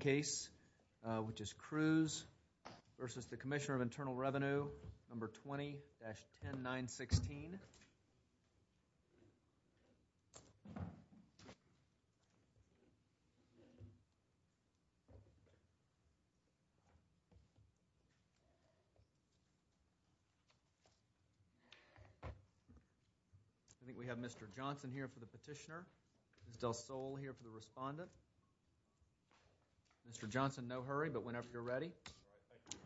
case, which is Crews v. Commissioner of Internal Revenue, No. 20-10916. We have Mr. Johnson here for the petitioner. Ms. Del Sol here for the respondent. Mr. Johnson, no hurry, but whenever you're ready. Thank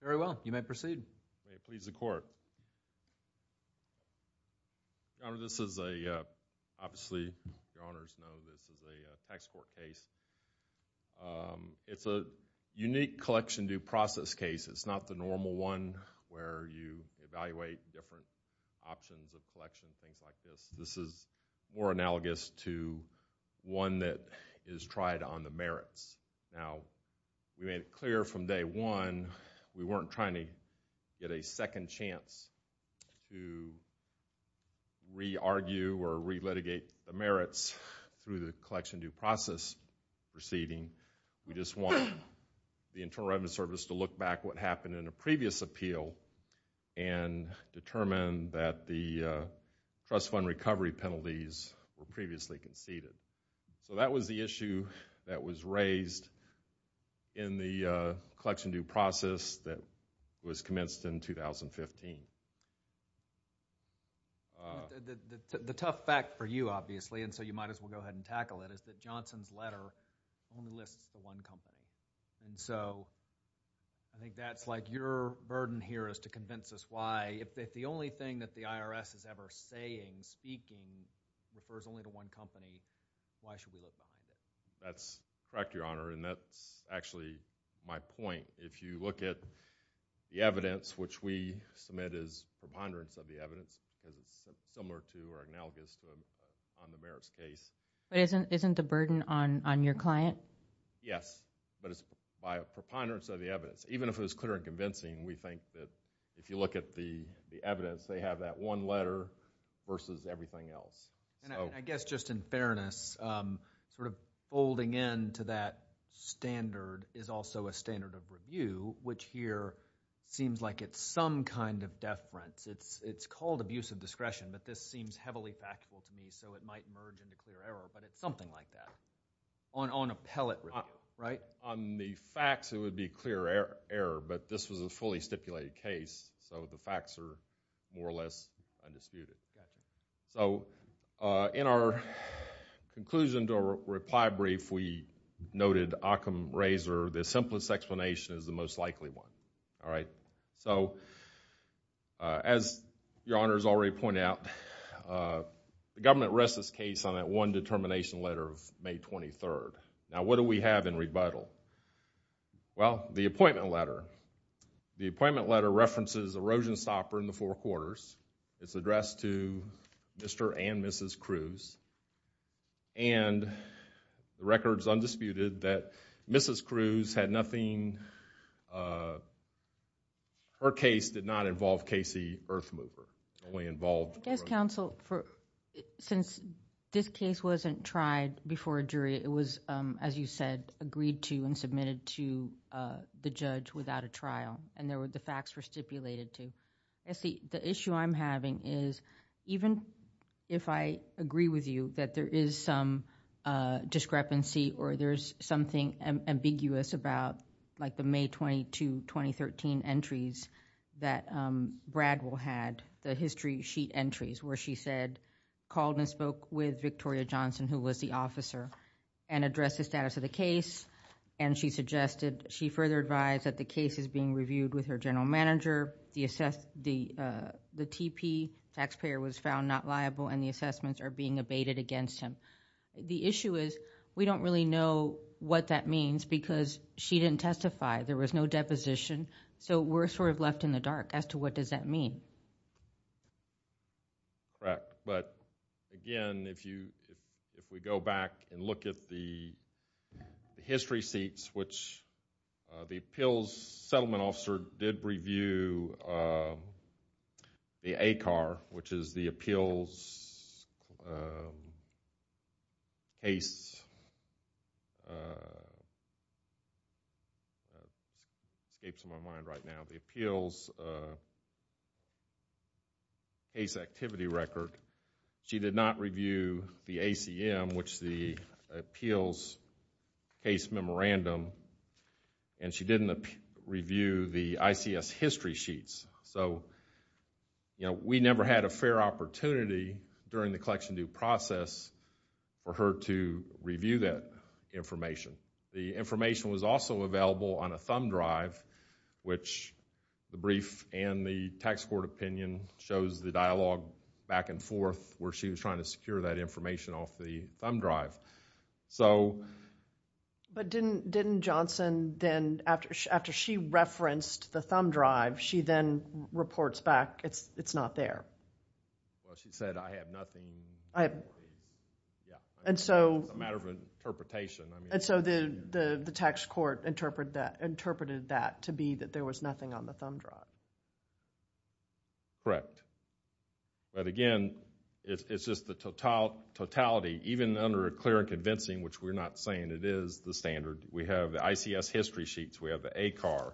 you. Very well. You may proceed. May it please the Court. Your Honor, this is a, obviously, Your Honors know this is a tax court case. It's a unique collection due process case. It's not the normal one where you evaluate different options of collection, things like this. This is more analogous to one that is tried on the merits. Now, we made it clear from day one we weren't trying to get a second chance to re-argue or re-litigate the merits through the collection due process proceeding. We just want the Internal Revenue Service to look back what happened in a previous appeal and determine that the trust fund recovery penalties were previously conceded. So that was the issue that was raised in the collection due process that was commenced in 2015. The tough fact for you, obviously, and so you might as well go ahead and tackle it, is that Johnson's letter only lists the one company. So I think that's like your burden here is to convince us why, if the only thing that the IRS is ever saying, speaking, refers only to one company, why should we look behind it? That's correct, Your Honor, and that's actually my point. If you look at the evidence, which we submit as preponderance of the evidence because it's similar to or analogous on the merits case. But isn't the burden on your client? Yes, but it's by preponderance of the evidence. Even if it was clear and convincing, we think that if you look at the evidence, they have that one letter versus everything else. I guess just in fairness, sort of folding into that standard is also a standard of review, which here seems like it's some kind of deference. It's called abuse of discretion, but this seems heavily factual to me, so it might merge into clear error, but it's something like that on a pellet review, right? On the facts, it would be clear error, but this was a fully stipulated case, so the facts are more or less undisputed. So in our conclusion to our reply brief, we noted Occam-Razor, the simplest explanation is the most likely one. So, as Your Honor has already pointed out, the government rests its case on that one determination letter of May 23rd. Now, what do we have in rebuttal? Well, the appointment letter. The appointment letter references erosion stopper in the Four Quarters. It's addressed to Mr. and Mrs. Cruz, and the record is undisputed that Mrs. Cruz had nothing Her case did not involve Casey Earthmover. It only involved... I guess counsel, since this case wasn't tried before a jury, it was, as you said, agreed to and submitted to the judge without a trial, and the facts were stipulated to. The issue I'm having is, even if I agree with you that there is some discrepancy or there's something ambiguous about the May 22, 2013 entries that Bradwell had, the history sheet entries where she said, called and spoke with Victoria Johnson, who was the officer, and addressed the status of the case, and she suggested... she further advised that the case is being reviewed with her general manager. The T.P. taxpayer was found not liable, and the assessments are being abated against him. The issue is, we don't really know what that means because she didn't testify. There was no deposition, so we're sort of left in the dark as to what does that mean. Correct, but again, if we go back and look at the history sheets, which the appeals settlement officer did review the ACAR, which is the appeals case... escapes my mind right now... the appeals case activity record. She did not review the ACM, which is the appeals case memorandum, and she didn't review the ICS history sheets. So, you know, we never had a fair opportunity during the collection due process for her to review that information. The information was also available on a thumb drive, which the brief and the tax court opinion shows the dialogue back and forth where she was trying to secure that information off the thumb drive. But didn't Johnson then, after she referenced the thumb drive, she then reports back, it's not there? Well, she said, I have nothing... It's a matter of interpretation. And so the tax court interpreted that to be that there was nothing on the thumb drive. Correct. But again, it's just the totality, even under clear and convincing, which we're not saying it is the standard. We have the ICS history sheets. We have the ACAR.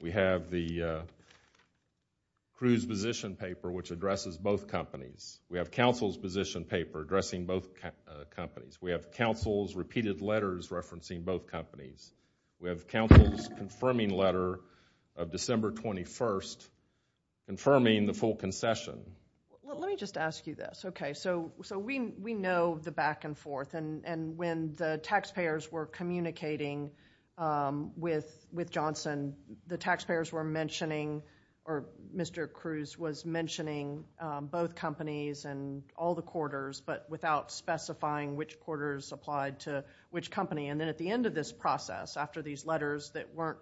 We have the cruise position paper, which addresses both companies. We have counsel's position paper addressing both companies. We have counsel's repeated letters referencing both companies. We have counsel's confirming letter of December 21st confirming the full concession. Let me just ask you this. Okay, so we know the back and forth, and when the taxpayers were communicating with Johnson, the taxpayers were mentioning, or Mr. Cruz was mentioning, both companies and all the quarters but without specifying which quarters applied to which company. And then at the end of this process, after these letters that weren't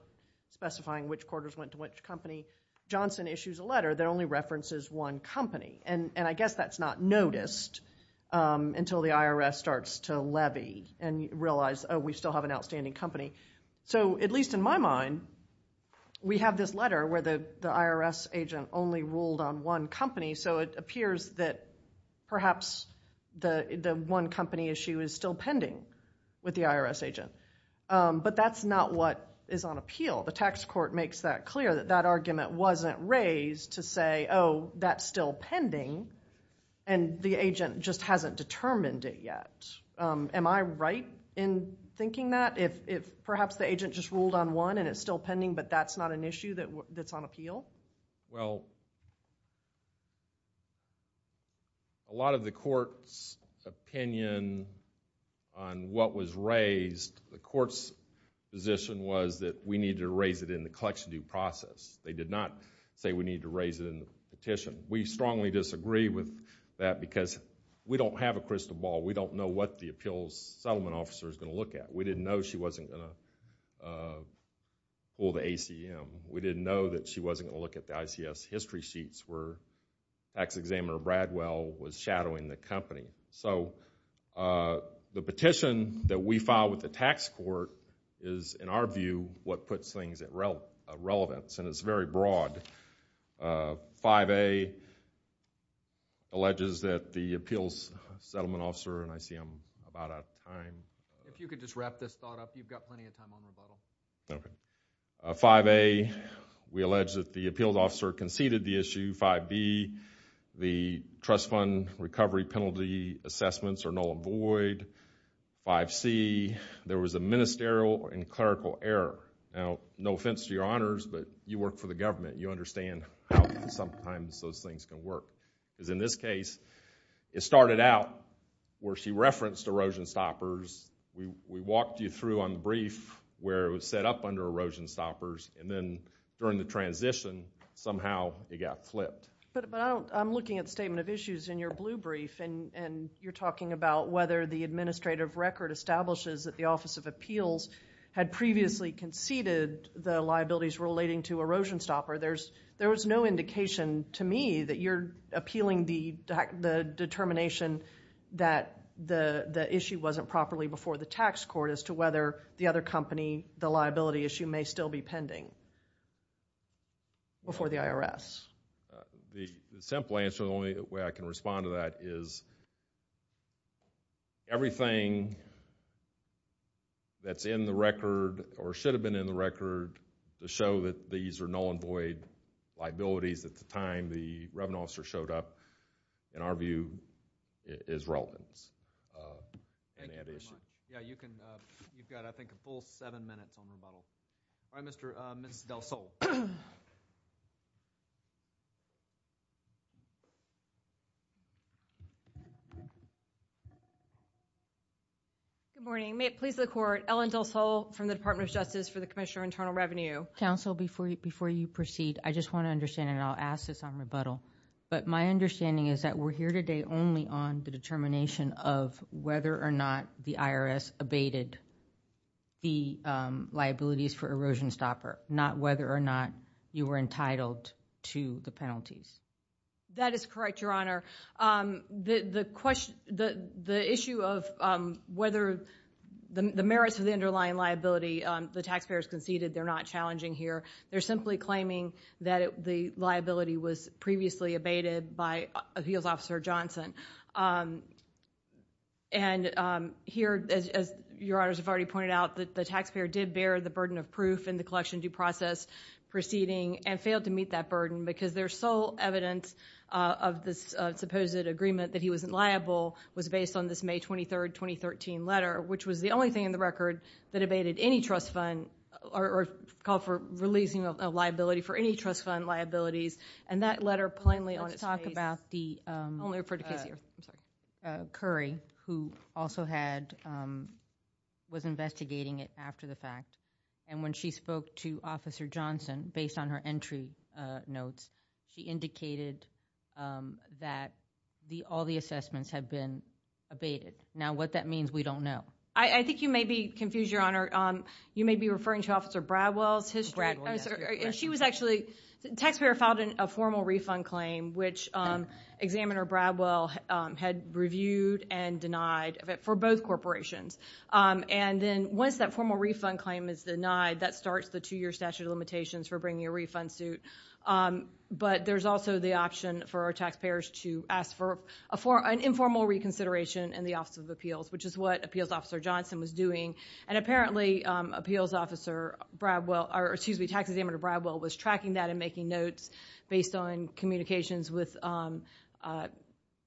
specifying which quarters went to which company, Johnson issues a letter that only references one company. And I guess that's not noticed until the IRS starts to levy and realize, oh, we still have an outstanding company. So at least in my mind, we have this letter where the IRS agent only ruled on one company, so it appears that perhaps the one company issue is still pending with the IRS agent. But that's not what is on appeal. The tax court makes that clear, that that argument wasn't raised to say, oh, that's still pending, and the agent just hasn't determined it yet. Am I right in thinking that, if perhaps the agent just ruled on one and it's still pending but that's not an issue that's on appeal? Well, a lot of the court's opinion on what was raised, the court's position was that we need to raise it in the collection due process. They did not say we need to raise it in the petition. We strongly disagree with that because we don't have a crystal ball. We don't know what the appeals settlement officer is going to look at. We didn't know she wasn't going to pull the ACM. We didn't know that she wasn't going to look at the ICS history sheets where tax examiner Bradwell was shadowing the company. So the petition that we filed with the tax court is, in our view, what puts things at relevance, and it's very broad. 5A alleges that the appeals settlement officer and ICM are about out of time. If you could just wrap this thought up, you've got plenty of time on rebuttal. 5A, we allege that the appeals officer conceded the issue. 5B, the trust fund recovery penalty assessments are null and void. 5C, there was a ministerial and clerical error. Now, no offense to your honors, but you work for the government. You understand how sometimes those things can work. In this case, it started out where she referenced erosion stoppers. We walked you through on the brief where it was set up under erosion stoppers, and then during the transition, somehow it got flipped. But I'm looking at the statement of issues in your blue brief, and you're talking about whether the administrative record establishes that the Office of Appeals had previously conceded the liabilities relating to erosion stopper. There was no indication to me that you're appealing the determination that the issue wasn't properly before the tax court as to whether the other company, the liability issue, may still be pending before the IRS. The simple answer, the only way I can respond to that, is everything that's in the record or should have been in the record to show that these are null and void liabilities at the time the revenue officer showed up, in our view, is relevant in that issue. Thank you very much. Yeah, you've got, I think, a full seven minutes on rebuttal. All right, Ms. Del Sol. Good morning. May it please the Court, Ellen Del Sol from the Department of Justice for the Commissioner of Internal Revenue. Counsel, before you proceed, I just want to understand, and I'll ask this on rebuttal, but my understanding is that we're here today only on the determination of whether or not the IRS abated the liabilities for erosion stopper, not whether or not you were entitled to the penalties. That is correct, Your Honor. The issue of whether the merits of the underlying liability the taxpayers conceded, they're not challenging here. They're simply claiming that the liability was previously abated by Appeals Officer Johnson. And here, as Your Honors have already pointed out, the taxpayer did bear the burden of proof in the collection due process proceeding and failed to meet that burden because their sole evidence of this supposed agreement that he wasn't liable was based on this May 23, 2013 letter, which was the only thing in the record that abated any trust fund or called for releasing a liability for any trust fund liabilities. And that letter plainly on its face... Let's talk about the... Only refer to Casey. I'm sorry. Curry, who also was investigating it after the fact, and when she spoke to Officer Johnson based on her entry notes, she indicated that all the assessments had been abated. Now, what that means, we don't know. I think you may be confused, Your Honor. You may be referring to Officer Bradwell's history. Bradwell, yes. She was actually... The taxpayer filed a formal refund claim, which Examiner Bradwell had reviewed and denied for both corporations. And then once that formal refund claim is denied, that starts the two-year statute of limitations for bringing a refund suit. But there's also the option for our taxpayers to ask for an informal reconsideration in the Office of Appeals, which is what Appeals Officer Johnson was doing. And apparently Tax Examiner Bradwell was tracking that and making notes based on communications with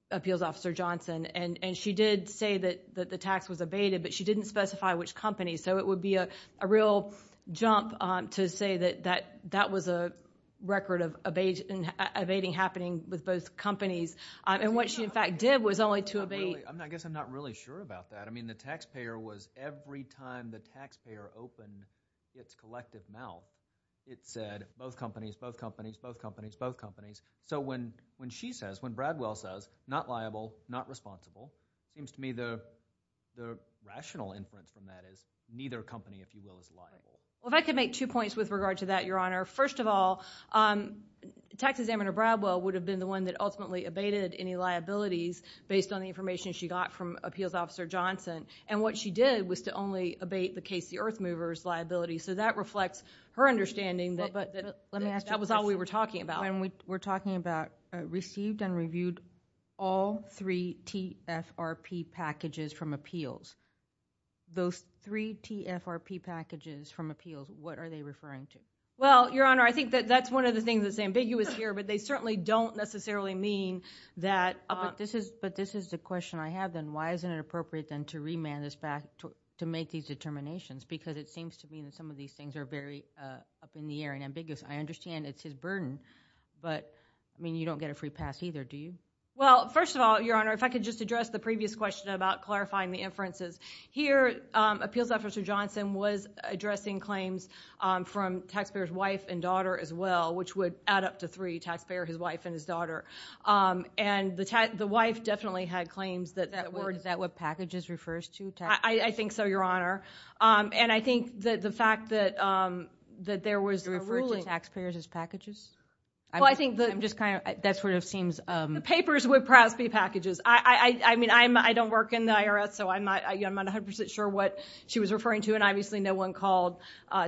Appeals Officer Johnson. And she did say that the tax was abated, but she didn't specify which company. So it would be a real jump to say that that was a record of abating happening with both companies. And what she, in fact, did was only to abate... I guess I'm not really sure about that. I mean, the taxpayer was... every time the taxpayer opened its collective mouth, it said both companies, both companies, both companies, both companies. So when she says, when Bradwell says, not liable, not responsible, it seems to me the rational inference from that is neither company, if you will, is liable. Well, if I could make two points with regard to that, Your Honor. First of all, Tax Examiner Bradwell would have been the one that ultimately abated any liabilities based on the information she got from Appeals Officer Johnson. And what she did was to only abate the Casey Earthmovers liability. So that reflects her understanding that that was all we were talking about. Let me ask you a question. When we're talking about received and reviewed all three TFRP packages from appeals, those three TFRP packages from appeals, what are they referring to? Well, Your Honor, I think that that's one of the things that's ambiguous here, but they certainly don't necessarily mean that. But this is the question I have then. Why isn't it appropriate then to remand this back to make these determinations? Because it seems to me that some of these things are very up in the air and ambiguous. I understand it's his burden, but, I mean, you don't get a free pass either, do you? Well, first of all, Your Honor, if I could just address the previous question about clarifying the inferences. Here Appeals Officer Johnson was addressing claims from taxpayer's wife and daughter as well, which would add up to three, taxpayer, his wife, and his daughter. And the wife definitely had claims that that was. Is that what packages refers to? I think so, Your Honor. And I think that the fact that there was a ruling. Do you refer to taxpayers as packages? Well, I think that just kind of, that sort of seems. The papers would perhaps be packages. I mean, I don't work in the IRS, so I'm not 100% sure what she was referring to. And obviously no one called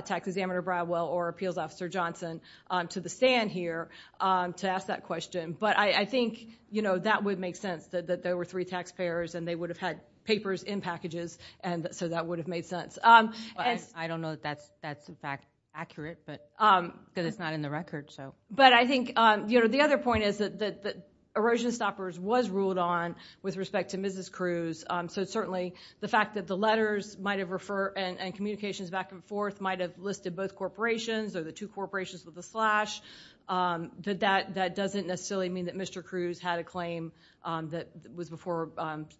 Tax Examiner Bradwell or Appeals Officer Johnson to the stand here to ask that question. But I think, you know, that would make sense, that there were three taxpayers and they would have had papers in packages, so that would have made sense. I don't know that that's, in fact, accurate because it's not in the record. But I think, you know, the other point is that Erosion Stoppers was ruled on with respect to Mrs. Cruz. So certainly the fact that the letters might have referred and communications back and forth might have listed both corporations or the two corporations with a slash, that that doesn't necessarily mean that Mr. Cruz had a claim that was before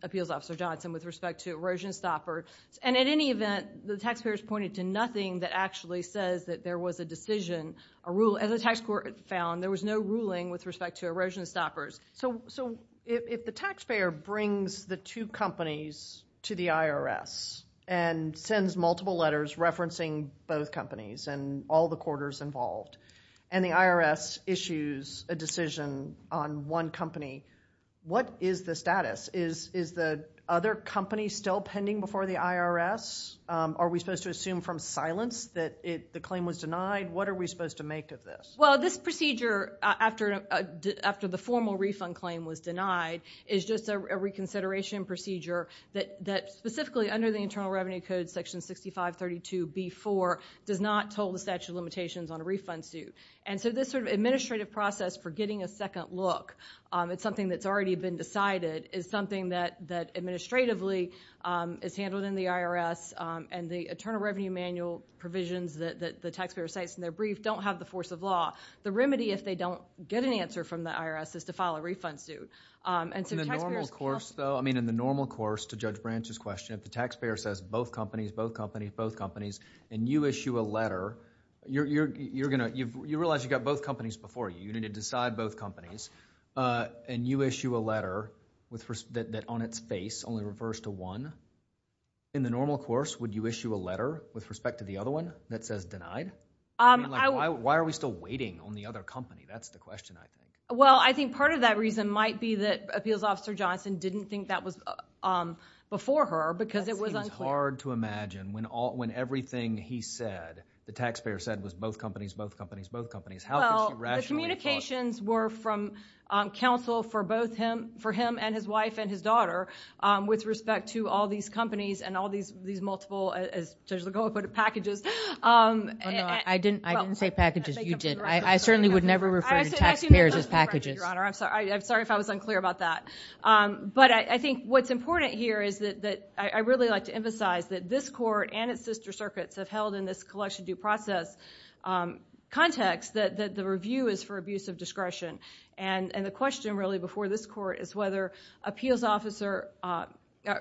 Appeals Officer Johnson with respect to Erosion Stoppers. And in any event, the taxpayers pointed to nothing that actually says that there was a decision, a rule. As the tax court found, there was no ruling with respect to Erosion Stoppers. So if the taxpayer brings the two companies to the IRS and sends multiple letters referencing both companies and all the quarters involved, and the IRS issues a decision on one company, what is the status? Is the other company still pending before the IRS? Are we supposed to assume from silence that the claim was denied? What are we supposed to make of this? Well, this procedure, after the formal refund claim was denied, is just a reconsideration procedure that specifically under the Internal Revenue Code, Section 6532b-4, does not toll the statute of limitations on a refund suit. And so this sort of administrative process for getting a second look, it's something that's already been decided, is something that administratively is handled in the IRS, and the Internal Revenue Manual provisions that the taxpayer cites in their brief don't have the force of law. The remedy, if they don't get an answer from the IRS, is to file a refund suit. In the normal course, though, I mean in the normal course, to Judge Branch's question, if the taxpayer says both companies, both companies, both companies, and you issue a letter, you realize you've got both companies before you. You need to decide both companies. And you issue a letter that on its face only refers to one. In the normal course, would you issue a letter with respect to the other one that says denied? I mean, like why are we still waiting on the other company? That's the question, I think. Well, I think part of that reason might be that Appeals Officer Johnson didn't think that was before her because it was unclear. It seems hard to imagine when everything he said, the taxpayer said, was both companies, both companies, both companies. Well, the communications were from counsel for both him, for him and his wife and his daughter, with respect to all these companies and all these multiple, as Judge Lagoa put it, packages. Oh, no, I didn't say packages. You did. I certainly would never refer to taxpayers as packages. Your Honor, I'm sorry if I was unclear about that. But I think what's important here is that I really like to emphasize that this court and its sister circuits have held in this collection due process context that the review is for abuse of discretion. And the question really before this court is whether Appeals Officer, or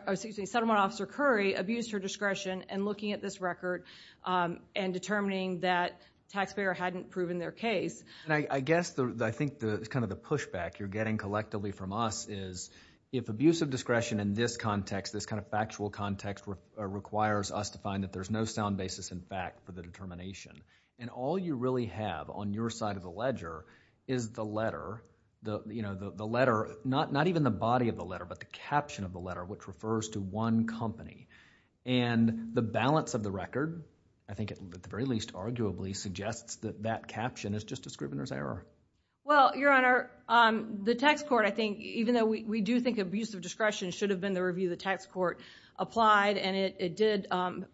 excuse me, Settlement Officer Curry abused her discretion in looking at this record and determining that taxpayer hadn't proven their case. And I guess I think kind of the pushback you're getting collectively from us is if abuse of discretion in this context, this kind of factual context requires us to find that there's no sound basis in fact for the determination, and all you really have on your side of the ledger is the letter, you know, the letter, not even the body of the letter, but the caption of the letter, which refers to one company. And the balance of the record, I think at the very least arguably, suggests that that caption is just a scrivener's error. Well, Your Honor, the tax court, I think, even though we do think abuse of discretion should have been the review the tax court applied, and it did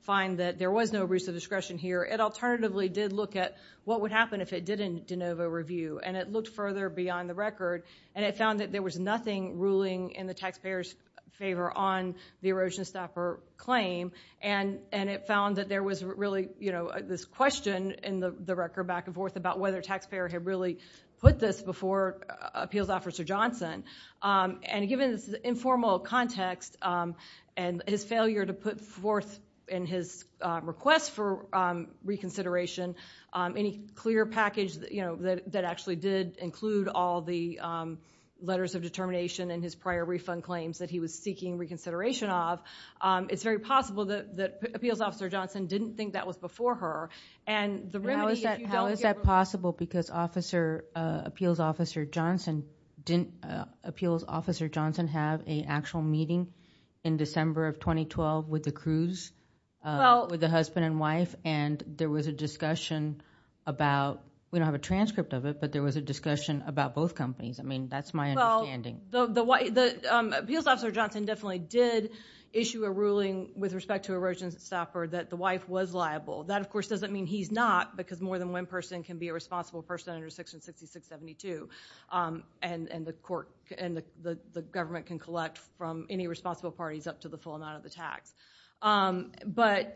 find that there was no abuse of discretion here, it alternatively did look at what would happen if it didn't de novo review, and it looked further beyond the record, and it found that there was nothing ruling in the taxpayer's favor on the erosion stopper claim, and it found that there was really, you know, this question in the record back and forth about whether a taxpayer had really put this before Appeals Officer Johnson. And given this informal context and his failure to put forth in his request for reconsideration any clear package, you know, that actually did include all the letters of determination and his prior refund claims that he was seeking reconsideration of, it's very possible that Appeals Officer Johnson didn't think that was before her. How is that possible? Because Appeals Officer Johnson didn't have an actual meeting in December of 2012 with the crews, with the husband and wife, and there was a discussion about, we don't have a transcript of it, but there was a discussion about both companies. I mean, that's my understanding. Appeals Officer Johnson definitely did issue a ruling with respect to erosion stopper that the wife was liable. That, of course, doesn't mean he's not, because more than one person can be a responsible person under Section 6672, and the government can collect from any responsible parties up to the full amount of the tax. But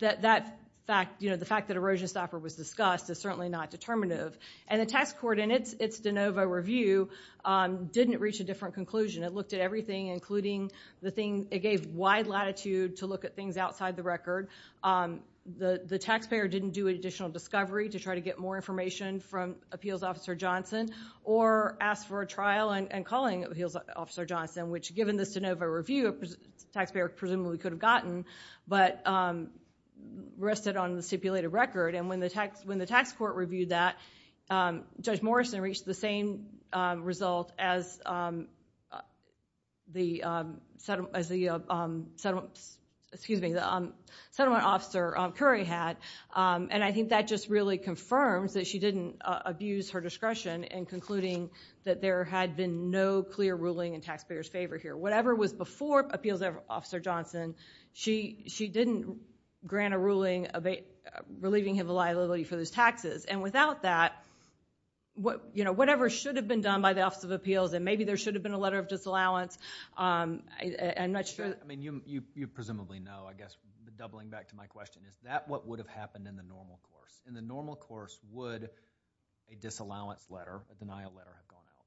that fact, you know, the fact that erosion stopper was discussed is certainly not determinative, and the tax court in its de novo review didn't reach a different conclusion. It looked at everything, including the thing, it gave wide latitude to look at things outside the record. The taxpayer didn't do an additional discovery to try to get more information from Appeals Officer Johnson or ask for a trial and calling Appeals Officer Johnson, which, given the de novo review, the taxpayer presumably could have gotten but rested on the stipulated record. And when the tax court reviewed that, Judge Morrison reached the same result as the settlement officer Curry had, and I think that just really confirms that she didn't abuse her discretion in concluding that there had been no clear ruling in taxpayers' favor here. Whatever was before Appeals Officer Johnson, she didn't grant a ruling relieving him of a liability for those taxes. And without that, you know, whatever should have been done by the Office of Appeals, and maybe there should have been a letter of disallowance, I'm not sure. I mean, you presumably know, I guess doubling back to my question. Is that what would have happened in the normal course? In the normal course, would a disallowance letter, a denial letter, have gone out?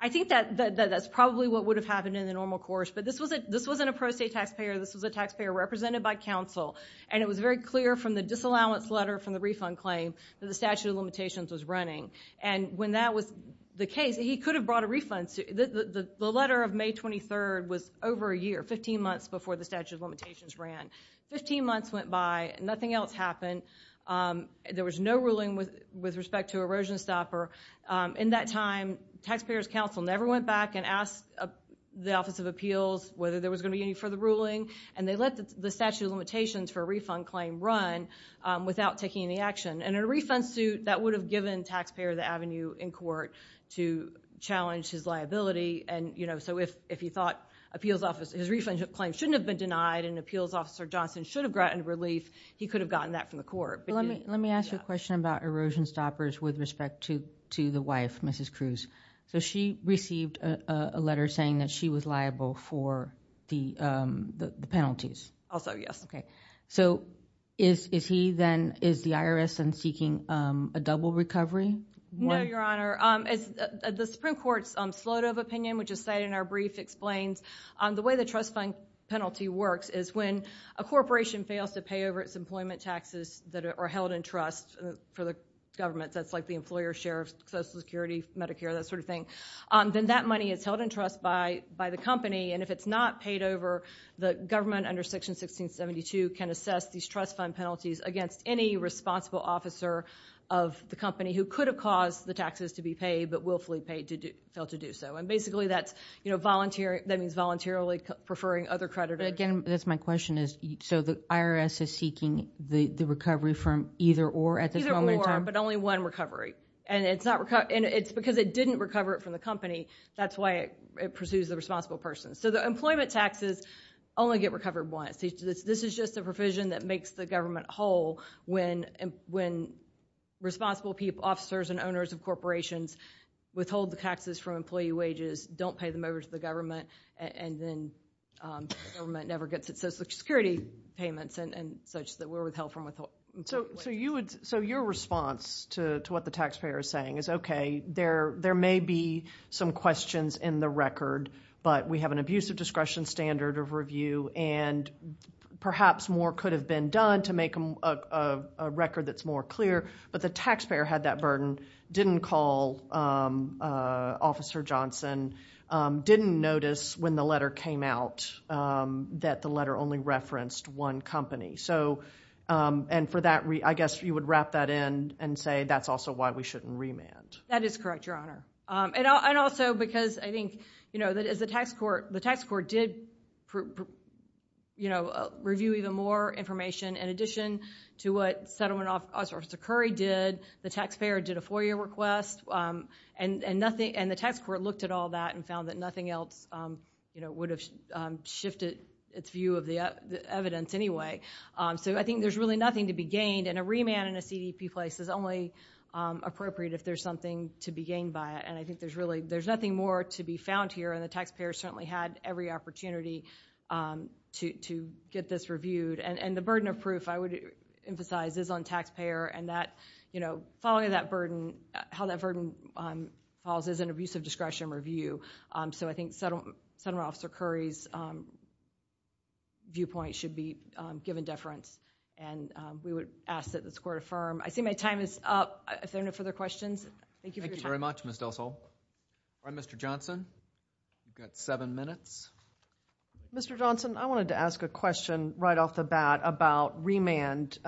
I think that that's probably what would have happened in the normal course. But this wasn't a pro se taxpayer. This was a taxpayer represented by counsel, and it was very clear from the disallowance letter from the refund claim that the statute of limitations was running. And when that was the case, he could have brought a refund. The letter of May 23rd was over a year, 15 months before the statute of limitations ran. Fifteen months went by. Nothing else happened. There was no ruling with respect to erosion stopper. In that time, taxpayers counsel never went back and asked the Office of Appeals whether there was going to be any further ruling, and they let the statute of limitations for a refund claim run without taking any action. And in a refund suit, that would have given taxpayer of the avenue in court to challenge his liability. And, you know, so if he thought his refund claim shouldn't have been denied and Appeals Officer Johnson should have granted relief, he could have gotten that from the court. Let me ask you a question about erosion stoppers with respect to the wife, Mrs. Cruz. So she received a letter saying that she was liable for the penalties. Also, yes. Okay. So is he then, is the IRS then seeking a double recovery? No, Your Honor. The Supreme Court's Slodo opinion, which is cited in our brief, the way the trust fund penalty works is when a corporation fails to pay over its employment taxes that are held in trust for the government, that's like the employer's share of Social Security, Medicare, that sort of thing, then that money is held in trust by the company, and if it's not paid over, the government under Section 1672 can assess these trust fund penalties against any responsible officer of the company who could have caused the taxes to be paid but willfully failed to do so. And basically that means voluntarily preferring other creditors. Again, that's my question. So the IRS is seeking the recovery from either or at this moment in time? Either or, but only one recovery. And it's because it didn't recover it from the company, that's why it pursues the responsible person. So the employment taxes only get recovered once. This is just a provision that makes the government whole when responsible officers and owners of corporations withhold the taxes from employee wages, don't pay them over to the government, and then the government never gets its Social Security payments and such that were withheld from employee wages. So your response to what the taxpayer is saying is, okay, there may be some questions in the record, but we have an abusive discretion standard of review, and perhaps more could have been done to make a record that's more clear, but the taxpayer had that burden, didn't call Officer Johnson, didn't notice when the letter came out that the letter only referenced one company. And for that, I guess you would wrap that in and say that's also why we shouldn't remand. That is correct, Your Honor. And also because I think that as the tax court did review even more information in addition to what Settlement Officer Curry did, the taxpayer did a FOIA request, and the tax court looked at all that and found that nothing else would have shifted its view of the evidence anyway. So I think there's really nothing to be gained, and a remand in a CDP place is only appropriate if there's something to be gained by it, and I think there's nothing more to be found here, and the taxpayer certainly had every opportunity to get this reviewed. And the burden of proof, I would emphasize, is on taxpayer, and following that burden, how that burden falls is an abusive discretion review. So I think Settlement Officer Curry's viewpoint should be given deference, and we would ask that this court affirm. I see my time is up. If there are no further questions, thank you for your time. Thank you very much, Ms. Del Sol. All right, Mr. Johnson, you've got seven minutes. Mr. Johnson, I wanted to ask a question right off the bat about remand.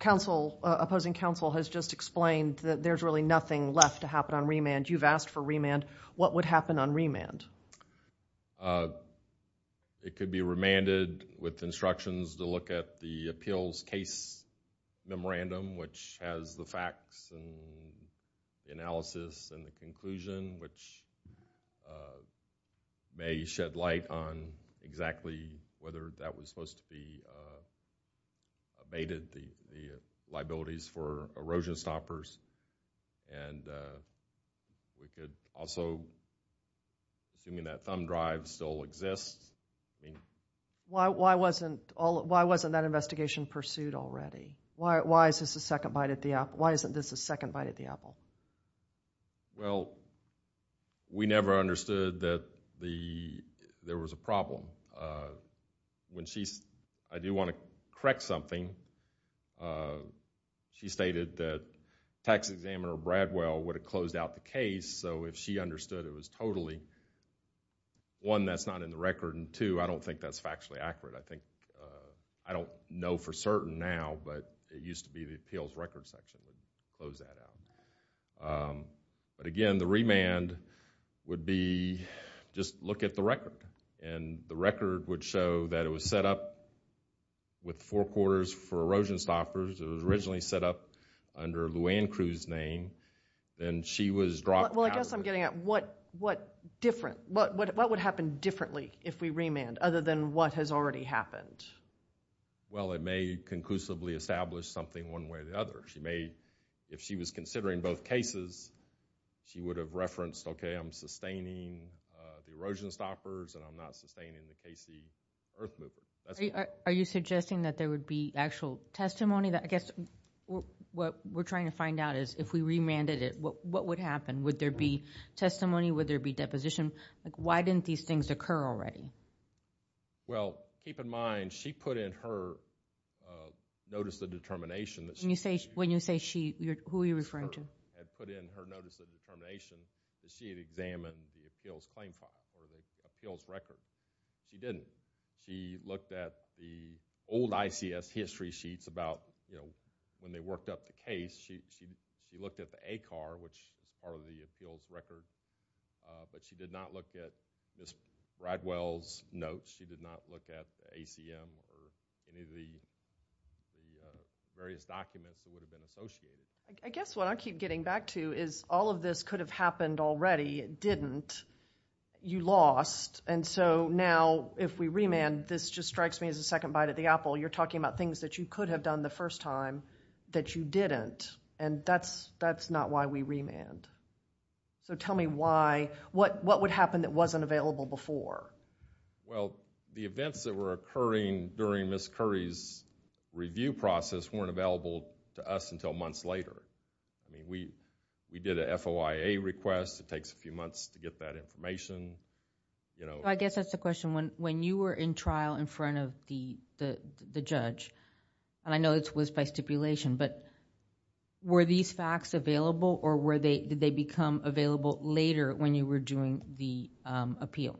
Opposing counsel has just explained that there's really nothing left to happen on remand. You've asked for remand. What would happen on remand? It could be remanded with instructions to look at the appeals case memorandum, which has the facts and analysis and the conclusion, which may shed light on exactly whether that was supposed to be abated, the liabilities for erosion stoppers, and we could also, assuming that thumb drive still exists. Why wasn't that investigation pursued already? Why isn't this the second bite at the apple? Well, we never understood that there was a problem. I do want to correct something. She stated that Tax Examiner Bradwell would have closed out the case, so if she understood it was totally, one, that's not in the record, and two, I don't think that's factually accurate. I think, I don't know for certain now, but it used to be the appeals record section would close that out. But again, the remand would be just look at the record, and the record would show that it was set up with four quarters for erosion stoppers. It was originally set up under Luann Cruz's name. Then she was dropped out. Well, I guess I'm getting at what different, what would happen differently if we remand, other than what has already happened? Well, it may conclusively establish something one way or the other. If she was considering both cases, she would have referenced, okay, I'm sustaining the erosion stoppers, and I'm not sustaining the KC Earth Movement. Are you suggesting that there would be actual testimony? I guess what we're trying to find out is if we remanded it, what would happen? Would there be testimony? Would there be deposition? Why didn't these things occur already? Well, keep in mind, she put in her notice of determination. When you say she, who are you referring to? She had put in her notice of determination that she had examined the appeals claim file or the appeals record. She didn't. She looked at the old ICS history sheets about when they worked up the case. She looked at the ACAR, which is part of the appeals record, but she did not look at Ms. Bradwell's notes. She did not look at the ACM or any of the various documents that would have been associated. I guess what I keep getting back to is all of this could have happened already. It didn't. You lost, and so now if we remand, this just strikes me as a second bite at the apple. You're talking about things that you could have done the first time that you didn't, and that's not why we remand. So tell me why. What would happen that wasn't available before? Well, the events that were occurring during Ms. Curry's review process weren't available to us until months later. We did a FOIA request. It takes a few months to get that information. I guess that's the question. When you were in trial in front of the judge, and I know this was by stipulation, but were these facts available, or did they become available later when you were doing the appeal?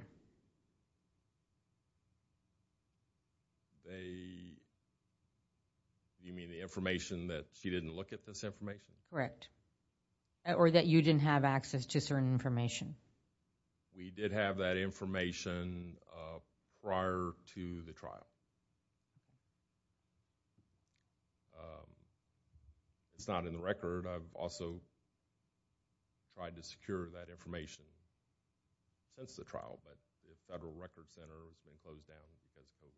You mean the information that she didn't look at this information? Correct. Or that you didn't have access to certain information. We did have that information prior to the trial. It's not in the record. I've also tried to secure that information since the trial, but the Federal Records Center has been closed down because of COVID.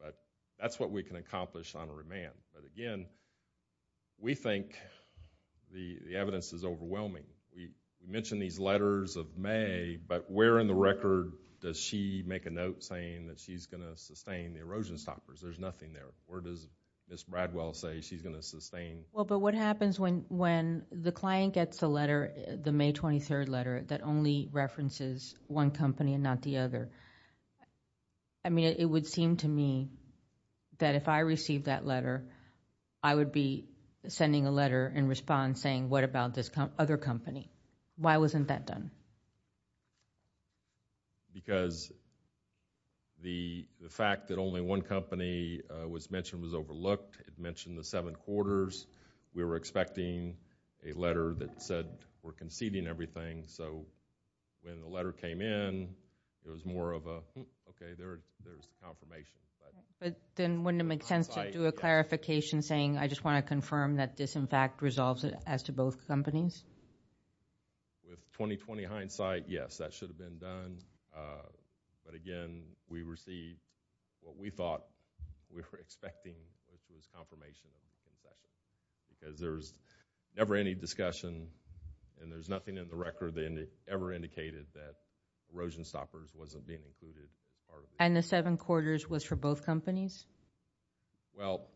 But that's what we can accomplish on a remand. But again, we think the evidence is overwhelming. You mentioned these letters of May, but where in the record does she make a note saying that she's going to sustain the erosion stoppers? There's nothing there. Where does Ms. Bradwell say she's going to sustain? What happens when the client gets the May 23rd letter that only references one company and not the other? It would seem to me that if I received that letter, I would be sending a letter in response saying, what about this other company? Why wasn't that done? Because the fact that only one company was mentioned was overlooked. It mentioned the seven quarters. We were expecting a letter that said we're conceding everything. When the letter came in, there was more of a, okay, there's the confirmation. But then wouldn't it make sense to do a clarification saying, I just want to confirm that this in fact resolves as to both companies? With 20-20 hindsight, yes, that should have been done. But again, we received what we thought we were expecting, which was confirmation of the concession. Because there's never any discussion, and there's nothing in the record that ever indicated that erosion stoppers wasn't being included as part of it. And the seven quarters was for both companies? Well,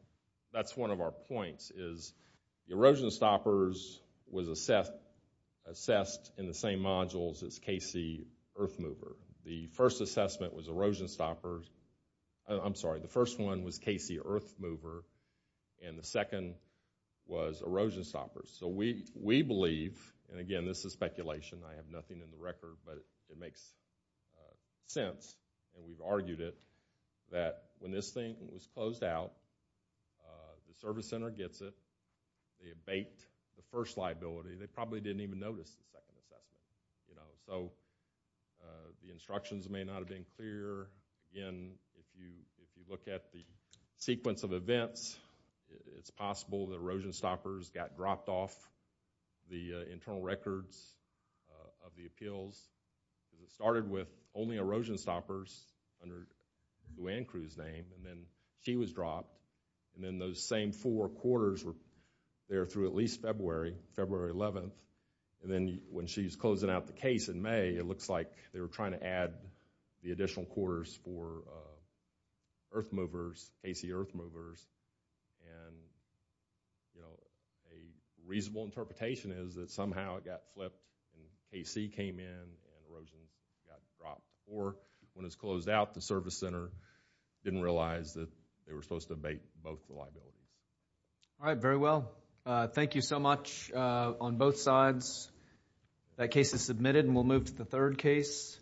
that's one of our points. The erosion stoppers was assessed in the same modules as KC Earthmover. The first assessment was erosion stoppers. I'm sorry, the first one was KC Earthmover, and the second was erosion stoppers. So we believe, and again, this is speculation, I have nothing in the record, but it makes sense, and we've argued it, that when this thing was closed out, the service center gets it, they abate the first liability. They probably didn't even notice the second assessment. So the instructions may not have been clear. Again, if you look at the sequence of events, it's possible the erosion stoppers got dropped off the internal records of the appeals. It started with only erosion stoppers under the land crew's name, and then she was dropped, and then those same four quarters were there through at least February, February 11th, and then when she's closing out the case in May, it looks like they were trying to add the additional quarters for earthmovers, KC earthmovers, and a reasonable interpretation is that somehow it got flipped, and KC came in, and erosion got dropped. Or when it's closed out, the service center didn't realize that they were supposed to abate both the liabilities. All right, very well. Thank you so much on both sides. That case is submitted, and we'll move to the third case.